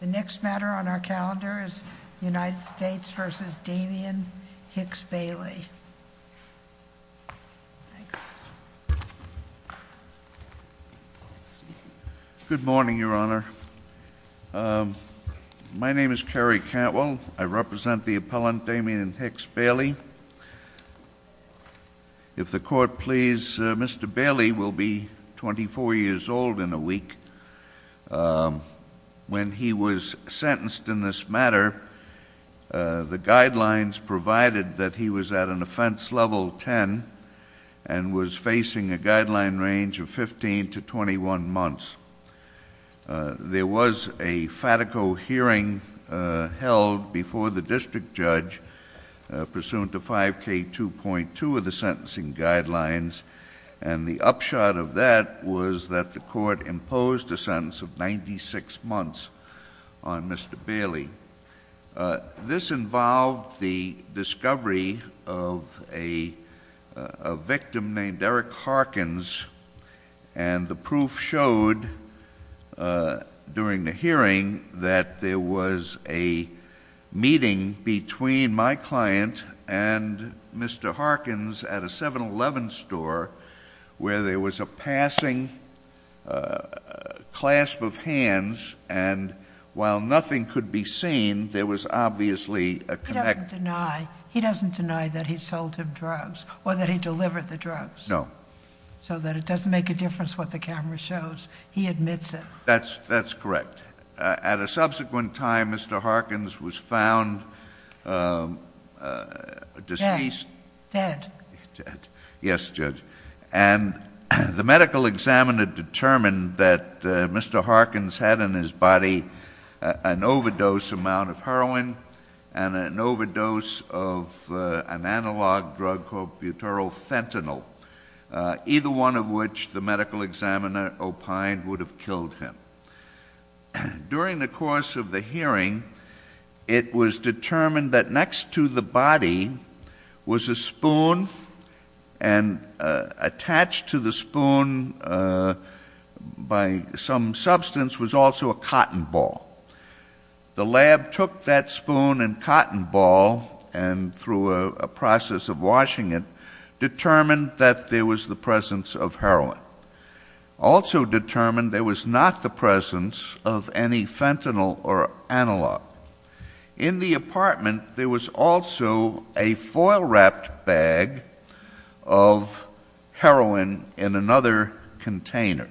The next matter on our calendar is United States v. Damien Hicks Bailey. Good morning, Your Honor. My name is Kerry Cantwell. I represent the appellant Damien Hicks Bailey. If the court please, Mr. Bailey will be 24 years old in a week. When he was sentenced in this matter, the guidelines provided that he was at an offense level 10 and was facing a guideline range of 15 to 21 months. There was a FATICO hearing held before the district judge pursuant to 5K2.2 of the sentencing guidelines and the upshot of that was that the court imposed a sentence of 96 months on Mr. Bailey. This involved the discovery of a victim named Eric Harkins and the proof showed during the hearing that there was a meeting between my client and Mr. Harkins at a 7-Eleven store where there was a passing clasp of hands and while nothing could be seen, there was obviously a connection. He doesn't deny that he sold him drugs or that he delivered the drugs. No. So that it doesn't make a difference what the camera shows. He admits it. That's correct. At a subsequent time, Mr. Harkins was found deceased. Dead. Dead. Yes, Judge. And the medical examiner determined that Mr. Harkins had in his body an overdose amount of heroin and an overdose of an analog drug called butyrophentanyl, either one of which the medical examiner opined would have killed him. During the course of the hearing, it was determined that next to the body was a spoon and attached to the spoon by some substance was also a cotton ball. The lab took that spoon and cotton ball and through a process of washing it determined that there was the presence of heroin. Also determined there was not the presence of any fentanyl or analog. In the apartment, there was also a foil-wrapped bag of heroin in another container.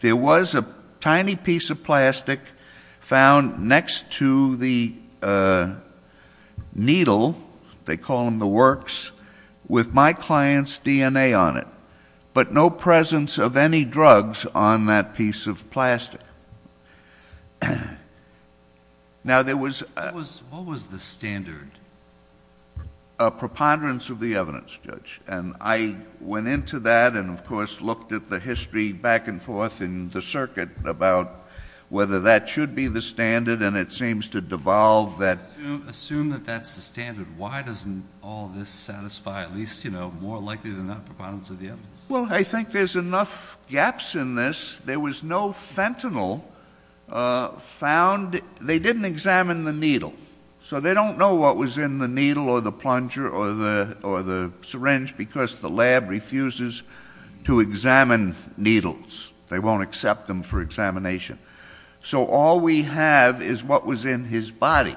There was a tiny piece of plastic found next to the needle, they call them the works, with my client's DNA on it, but no presence of any drugs on that piece of plastic. Now, there was... What was the standard? A preponderance of the evidence, Judge. And I went into that and, of course, looked at the history back and forth in the circuit about whether that should be the standard, and it seems to devolve that... Assume that that's the standard. Why doesn't all this satisfy, at least, you know, more likely than not, preponderance of the evidence? Well, I think there's enough gaps in this. There was no fentanyl found. They didn't examine the needle, so they don't know what was in the needle or the plunger or the syringe because the lab refuses to examine needles. They won't accept them for examination. So all we have is what was in his body.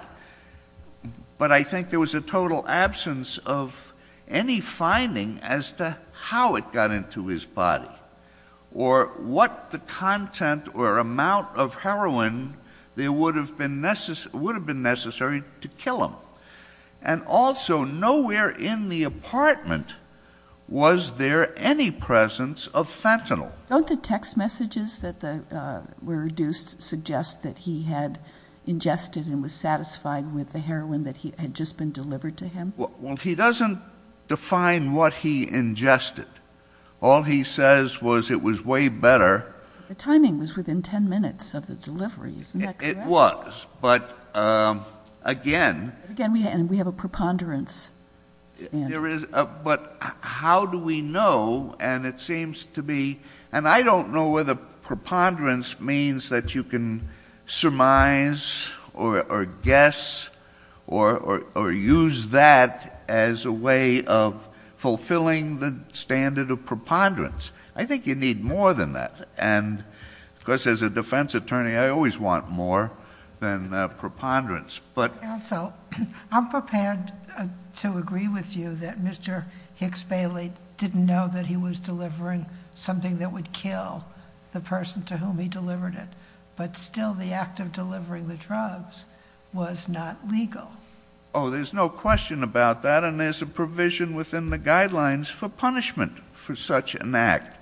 But I think there was a total absence of any finding as to how it got into his body or what the content or amount of heroin there would have been necessary to kill him. And also, nowhere in the apartment was there any presence of fentanyl. Don't the text messages that were reduced suggest that he had ingested and was satisfied with the heroin that had just been delivered to him? Well, he doesn't define what he ingested. All he says was it was way better. The timing was within 10 minutes of the delivery. Isn't that correct? It was, but again. Again, we have a preponderance standard. But how do we know? And it seems to be, and I don't know whether preponderance means that you can surmise or guess or use that as a way of fulfilling the standard of preponderance. I think you need more than that. Because as a defense attorney, I always want more than preponderance. Counsel, I'm prepared to agree with you that Mr. Hicks-Bailey didn't know that he was delivering something that would kill the person to whom he delivered it. But still, the act of delivering the drugs was not legal. Oh, there's no question about that. And there's a provision within the guidelines for punishment for such an act.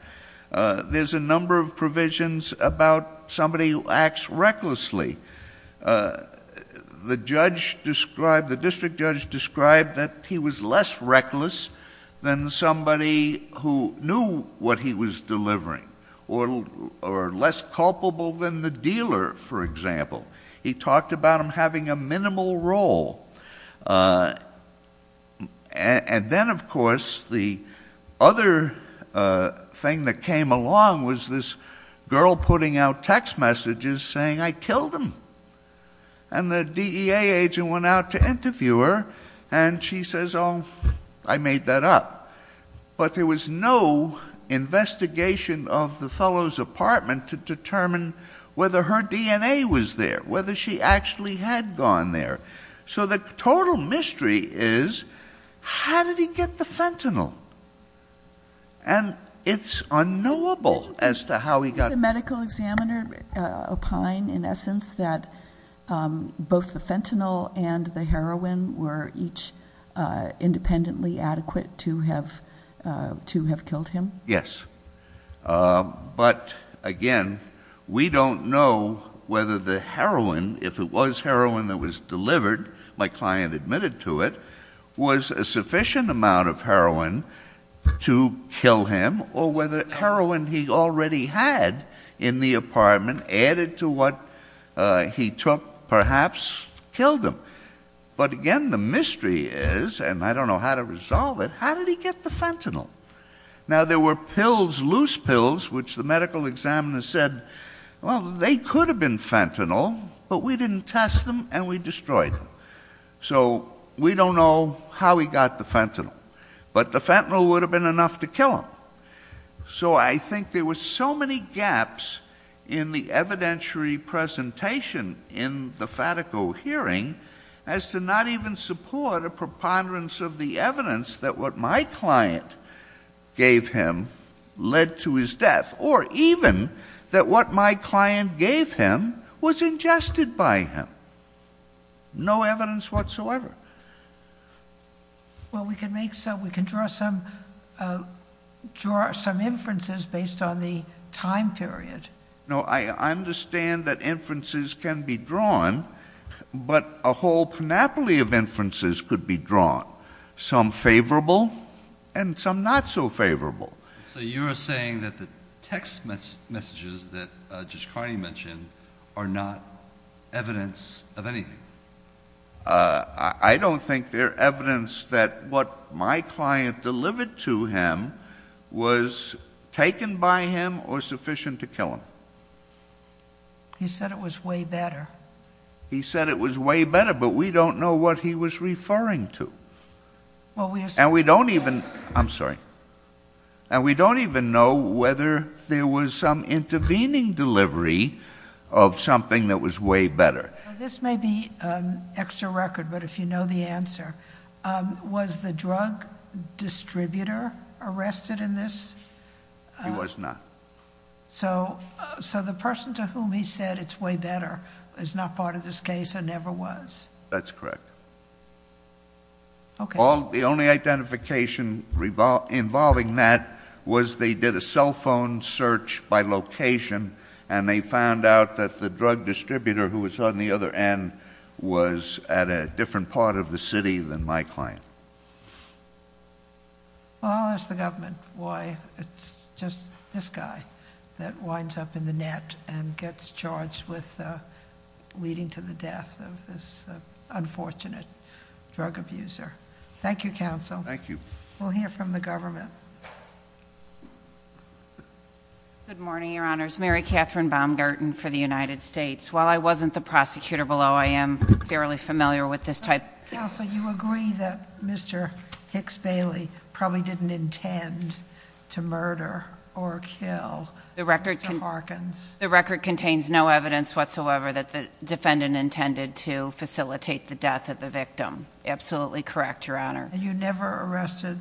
There's a number of provisions about somebody who acts recklessly. The district judge described that he was less reckless than somebody who knew what he was delivering or less culpable than the dealer, for example. He talked about him having a minimal role. And then, of course, the other thing that came along was this girl putting out text messages saying, I killed him. And the DEA agent went out to interview her, and she says, oh, I made that up. But there was no investigation of the fellow's apartment to determine whether her DNA was there, whether she actually had gone there. So the total mystery is, how did he get the fentanyl? And it's unknowable as to how he got it. The medical examiner opined, in essence, that both the fentanyl and the heroin were each independently adequate to have killed him. Yes. But, again, we don't know whether the heroin, if it was heroin that was delivered, my client admitted to it, was a sufficient amount of heroin to kill him, or whether heroin he already had in the apartment added to what he took perhaps killed him. But, again, the mystery is, and I don't know how to resolve it, how did he get the fentanyl? Now, there were pills, loose pills, which the medical examiner said, well, they could have been fentanyl, but we didn't test them, and we destroyed them. So we don't know how he got the fentanyl. But the fentanyl would have been enough to kill him. So I think there were so many gaps in the evidentiary presentation in the Fatico hearing as to not even support a preponderance of the evidence that what my client gave him led to his death, or even that what my client gave him was ingested by him. No evidence whatsoever. Well, we can draw some inferences based on the time period. No, I understand that inferences can be drawn, but a whole panoply of inferences could be drawn, some favorable and some not so favorable. So you're saying that the text messages that Judge Carney mentioned are not evidence of anything? I don't think they're evidence that what my client delivered to him was taken by him or sufficient to kill him. He said it was way better. He said it was way better, but we don't know what he was referring to. And we don't even know whether there was some intervening delivery of something that was way better. This may be extra record, but if you know the answer, was the drug distributor arrested in this? He was not. So the person to whom he said it's way better is not part of this case and never was? That's correct. Okay. The only identification involving that was they did a cell phone search by location, and they found out that the drug distributor who was on the other end was at a different part of the city than my client. Well, I'll ask the government why it's just this guy that winds up in the net and gets charged with leading to the death of this unfortunate drug abuser. Thank you, counsel. We'll hear from the government. Good morning, Your Honors. Mary Catherine Baumgarten for the United States. While I wasn't the prosecutor below, I am fairly familiar with this type. Counsel, you agree that Mr. Hicks Bailey probably didn't intend to murder or kill Mr. Harkins? The record contains no evidence whatsoever that the defendant intended to facilitate the death of the victim. Absolutely correct, Your Honor. And you never arrested,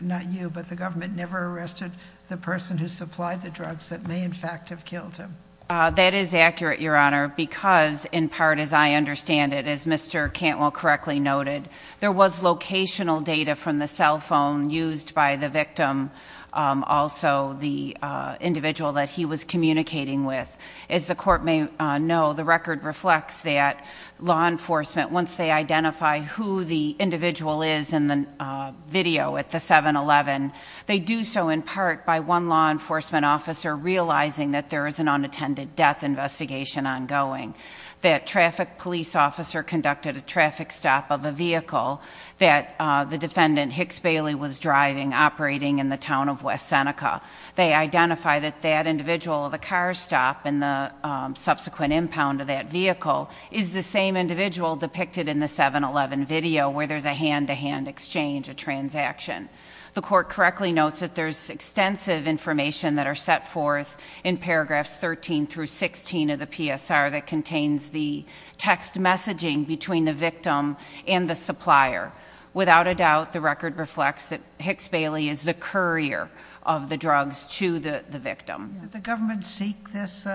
not you, but the government never arrested the person who supplied the drugs that may in fact have killed him? That is accurate, Your Honor, because in part, as I understand it, as Mr. Cantwell correctly noted, there was locational data from the cell phone used by the victim, also the individual that he was communicating with. As the court may know, the record reflects that law enforcement, once they identify who the individual is in the video at the 7-11, they do so in part by one law enforcement officer realizing that there is an unattended death investigation ongoing. That traffic police officer conducted a traffic stop of a vehicle that the defendant, Hicks Bailey, was driving, operating in the town of West Seneca. They identify that that individual, the car stop and the subsequent impound of that vehicle, is the same individual depicted in the 7-11 video where there's a hand-to-hand exchange, a transaction. The court correctly notes that there's extensive information that are set forth in paragraphs 13 through 16 of the PSR that contains the text messaging between the victim and the supplier. Without a doubt, the record reflects that Hicks Bailey is the courier of the drugs to the victim. Did the government seek this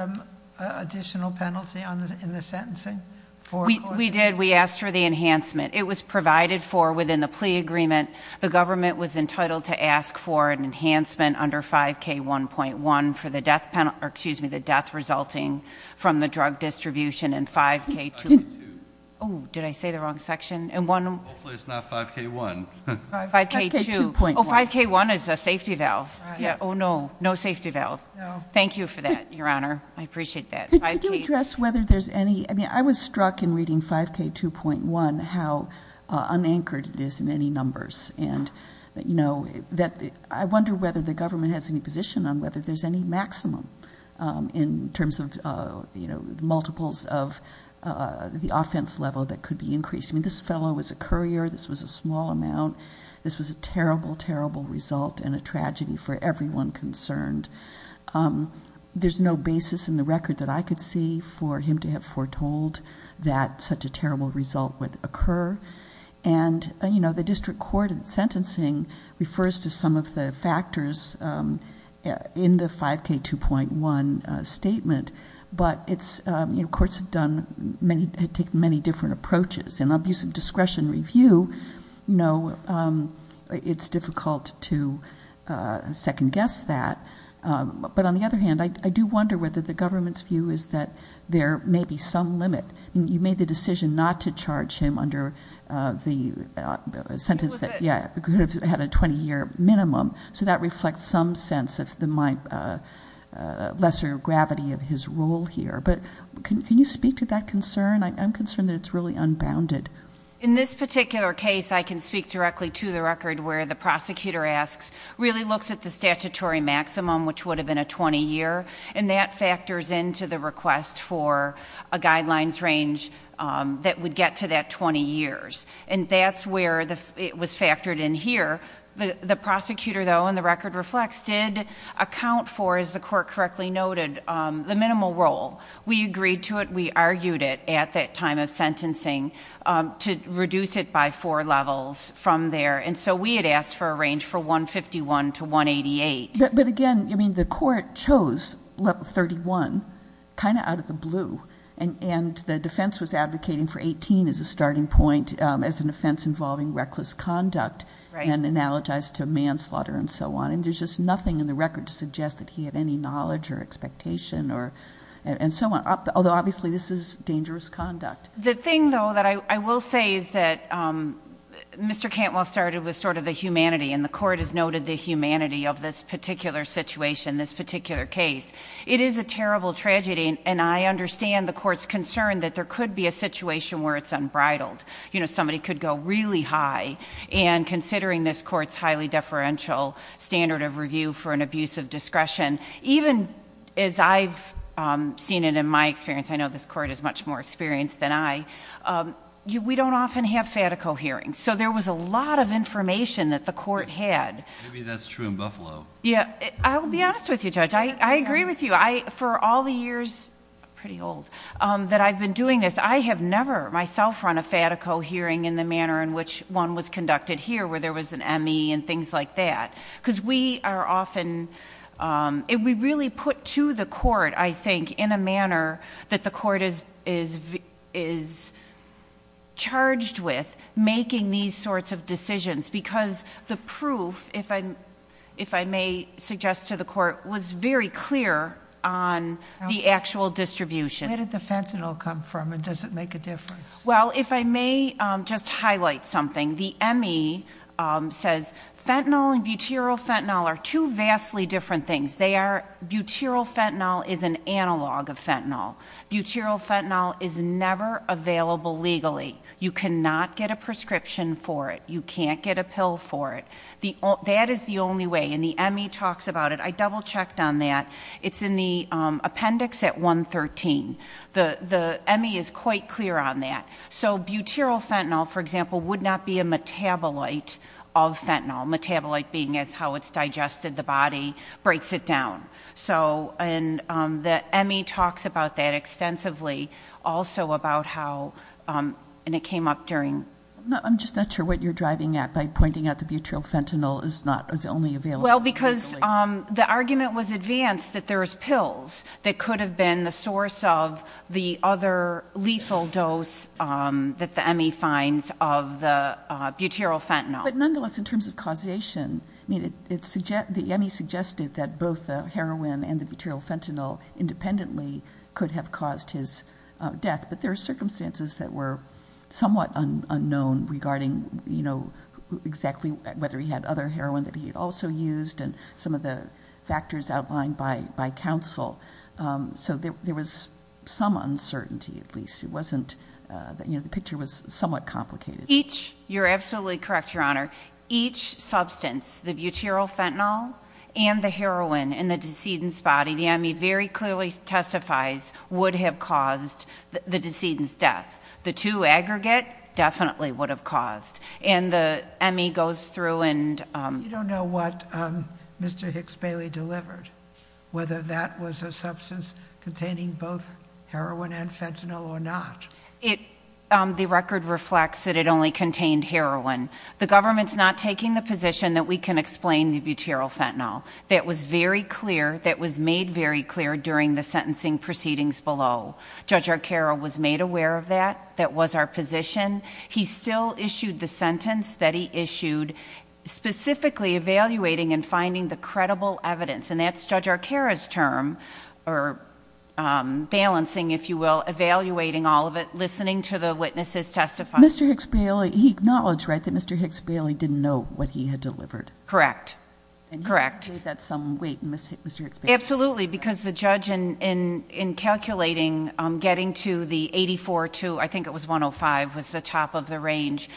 additional penalty in the sentencing? We did. We asked for the enhancement. It was provided for within the plea agreement. The government was entitled to ask for an enhancement under 5K1.1 for the death resulting from the drug distribution in 5K2. Did I say the wrong section? Hopefully it's not 5K1. 5K2.1. Oh, 5K1 is a safety valve. Oh, no. No safety valve. Thank you for that, Your Honor. I appreciate that. 5K- Could you address whether there's any- I mean, I was struck in reading 5K2.1 how unanchored it is in any numbers, and I wonder whether the government has any position on whether there's any maximum in terms of multiples of the offense level that could be increased. I mean, this fellow was a courier. This was a small amount. This was a terrible, terrible result and a tragedy for everyone concerned. There's no basis in the record that I could see for him to have foretold that such a terrible result would occur, and the district court in sentencing refers to some of the factors in the 5K2.1 statement, but courts have taken many different approaches. In an abuse of discretion review, it's difficult to second-guess that, but on the other hand, I do wonder whether the government's view is that there may be some limit. I mean, you made the decision not to charge him under the sentence that- It was a- Yeah, it could have had a 20-year minimum, so that reflects some sense of the lesser gravity of his role here, but can you speak to that concern? I'm concerned that it's really unbounded. In this particular case, I can speak directly to the record where the prosecutor asks, really looks at the statutory maximum, which would have been a 20-year, and that factors into the request for a guidelines range that would get to that 20 years, and that's where it was factored in here. The prosecutor, though, in the record reflects, did account for, as the court correctly noted, the minimal role. We agreed to it. We argued it at that time of sentencing to reduce it by four levels from there, and so we had asked for a range for 151 to 188. But again, I mean, the court chose level 31 kind of out of the blue, and the defense was advocating for 18 as a starting point as an offense involving reckless conduct, and analogized to manslaughter and so on, and there's just nothing in the record to suggest that he had any knowledge or expectation and so on, although obviously this is dangerous conduct. The thing, though, that I will say is that Mr. Cantwell started with sort of the humanity, and the court has noted the humanity of this particular situation, this particular case. It is a terrible tragedy, and I understand the court's concern that there could be a situation where it's unbridled. You know, somebody could go really high, and considering this court's highly deferential standard of review for an abuse of discretion, even as I've seen it in my experience, I know this court is much more experienced than I, we don't often have fatico hearings. So there was a lot of information that the court had. Maybe that's true in Buffalo. Yeah. I will be honest with you, Judge. I agree with you. For all the years, pretty old, that I've been doing this, I have never myself run a fatico hearing in the manner in which one was conducted here where there was an M.E. and things like that, because we are often, we really put to the court, I think, in a manner that the court is charged with making these sorts of decisions because the proof, if I may suggest to the court, was very clear on the actual distribution. Where did the fentanyl come from, and does it make a difference? Well, if I may just highlight something, the M.E. says fentanyl and butyryl fentanyl are two vastly different things. Butyryl fentanyl is an analog of fentanyl. Butyryl fentanyl is never available legally. You cannot get a prescription for it. You can't get a pill for it. That is the only way, and the M.E. talks about it. I double-checked on that. It's in the appendix at 113. The M.E. is quite clear on that. So butyryl fentanyl, for example, would not be a metabolite of fentanyl, metabolite being as how it's digested, the body, breaks it down. And the M.E. talks about that extensively, also about how, and it came up during. I'm just not sure what you're driving at by pointing out the butyryl fentanyl is only available legally. Well, because the argument was advanced that there was pills that could have been the source of the other lethal dose that the M.E. finds of the butyryl fentanyl. But nonetheless, in terms of causation, the M.E. suggested that both the heroin and the butyryl fentanyl independently could have caused his death. But there are circumstances that were somewhat unknown regarding, you know, exactly whether he had other heroin that he had also used and some of the factors outlined by counsel. So there was some uncertainty, at least. It wasn't, you know, the picture was somewhat complicated. Each, you're absolutely correct, Your Honor. Each substance, the butyryl fentanyl and the heroin in the decedent's body, the M.E. very clearly testifies would have caused the decedent's death. The two aggregate definitely would have caused. And the M.E. goes through and- You don't know what Mr. Hicks-Bailey delivered, whether that was a substance containing both heroin and fentanyl or not. It, the record reflects that it only contained heroin. The government's not taking the position that we can explain the butyryl fentanyl. That was very clear, that was made very clear during the sentencing proceedings below. Judge Arcaro was made aware of that. That was our position. He still issued the sentence that he issued, specifically evaluating and finding the credible evidence. And that's Judge Arcaro's term, or balancing, if you will, evaluating all of it, listening to the witnesses testify. Mr. Hicks-Bailey, he acknowledged, right, that Mr. Hicks-Bailey didn't know what he had delivered. Correct. Correct. And he gave that some weight, Mr. Hicks-Bailey. Absolutely, because the judge, in calculating, getting to the 84 to, I think it was 105, was the top of the range.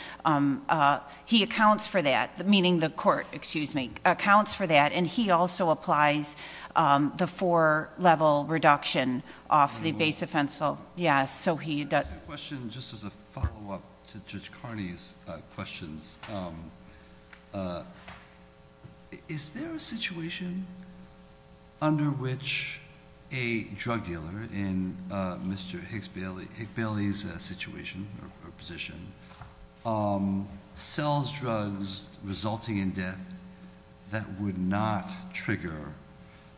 He accounts for that, meaning the court, excuse me, accounts for that. And he also applies the four-level reduction off the base offense. I have a question just as a follow-up to Judge Carney's questions. Is there a situation under which a drug dealer in Mr. Hicks-Bailey's situation or position sells drugs resulting in death that would not trigger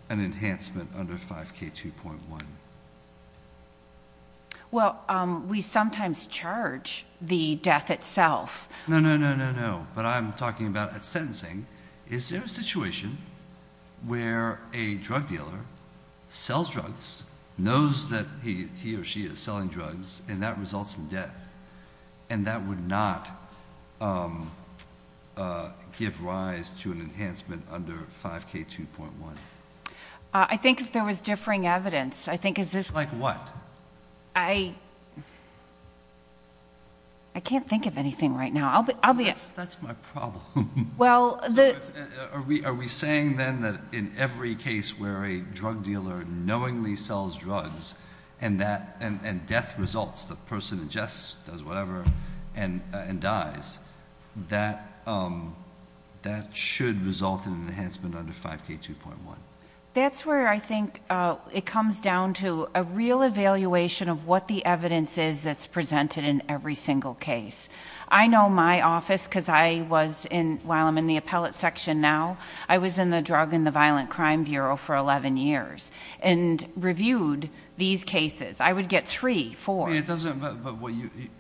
an enhancement under 5K2.1? Well, we sometimes charge the death itself. No, no, no, no, no. What I'm talking about at sentencing, is there a situation where a drug dealer sells drugs, knows that he or she is selling drugs, and that results in death, and that would not give rise to an enhancement under 5K2.1? I think if there was differing evidence, I think... Like what? I can't think of anything right now. I'll be... That's my problem. Well, the... Are we saying then that in every case where a drug dealer knowingly sells drugs and death results, the person ingests, does whatever, and dies, that that should result in an enhancement under 5K2.1? That's where I think it comes down to a real evaluation of what the evidence is that's presented in every single case. I know my office, because I was in... while I'm in the appellate section now, I was in the Drug and the Violent Crime Bureau for 11 years and reviewed these cases. I would get three, four. It doesn't...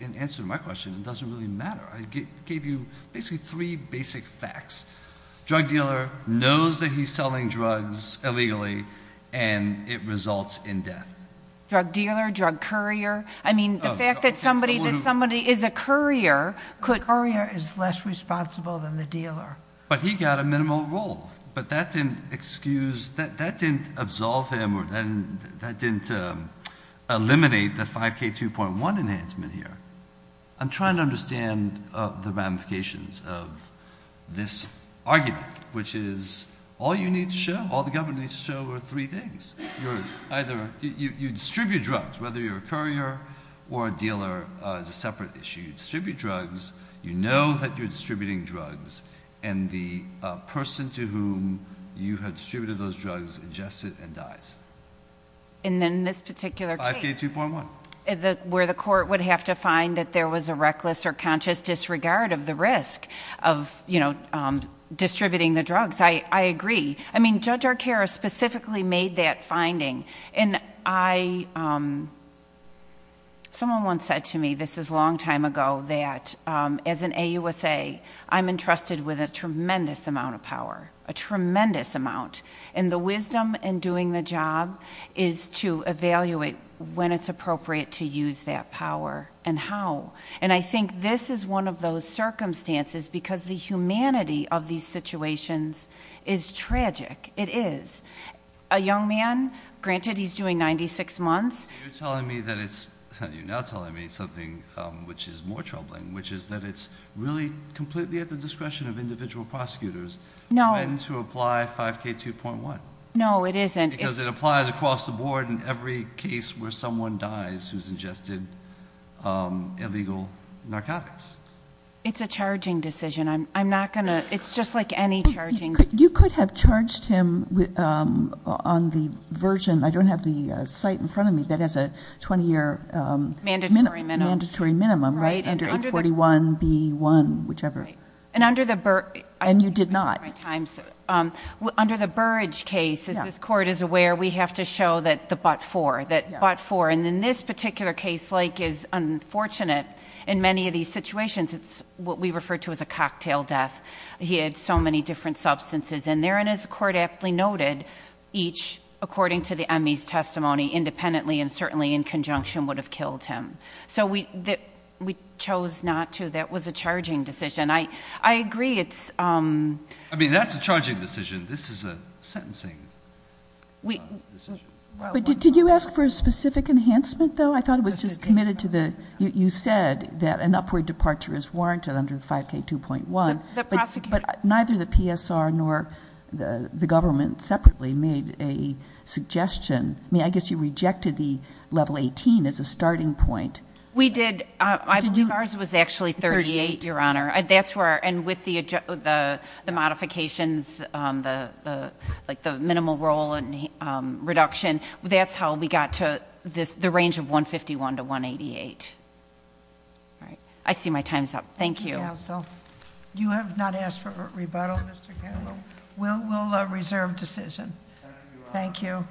In answer to my question, it doesn't really matter. I gave you basically three basic facts. Drug dealer knows that he's selling drugs illegally, and it results in death. Drug dealer, drug courier. I mean, the fact that somebody is a courier could... The courier is less responsible than the dealer. But he got a minimal role. But that didn't excuse... that didn't absolve him or that didn't eliminate the 5K2.1 enhancement here. I'm trying to understand the ramifications of this argument, which is all you need to show, all the government needs to show, are three things. You're either... you distribute drugs, whether you're a courier or a dealer. It's a separate issue. You distribute drugs. You know that you're distributing drugs. And the person to whom you had distributed those drugs ingested and dies. And then in this particular case... 5K2.1. Where the court would have to find that there was a reckless or conscious disregard of the risk of distributing the drugs. I agree. I mean, Judge Arcaro specifically made that finding. And I... Someone once said to me, this is a long time ago, that as an AUSA, I'm entrusted with a tremendous amount of power. A tremendous amount. And the wisdom in doing the job is to evaluate when it's appropriate to use that power and how. And I think this is one of those circumstances because the humanity of these situations is tragic. It is. A young man, granted he's doing 96 months... You're telling me that it's... You're now telling me something which is more troubling, which is that it's really completely at the discretion of individual prosecutors...... when to apply 5K2.1. No, it isn't. Because it applies across the board in every case where someone dies who's ingested illegal narcotics. It's a charging decision. I'm not going to... It's just like any charging... You could have charged him on the version... I don't have the site in front of me that has a 20-year... Mandatory minimum. Mandatory minimum, right, under 841B1, whichever. And under the... And you did not. Under the Burrage case, as this Court is aware, we have to show that the but-for, that but-for. And in this particular case, like is unfortunate, in many of these situations, it's what we refer to as a cocktail death. He had so many different substances in there. And as the Court aptly noted, each, according to the ME's testimony, independently and certainly in conjunction, would have killed him. So we chose not to. That was a charging decision. I agree it's... I mean, that's a charging decision. This is a sentencing decision. But did you ask for a specific enhancement, though? I thought it was just committed to the... You said that an upward departure is warranted under 5K2.1. But neither the PSR nor the government separately made a suggestion. I mean, I guess you rejected the level 18 as a starting point. We did. Did you... Ours was actually 38, Your Honor. That's where... And with the modifications, like the minimal role reduction, that's how we got to the range of 151 to 188. All right. I see my time's up. Thank you. Counsel. You have not asked for rebuttal, Mr. Campbell. We'll reserve decision. Thank you.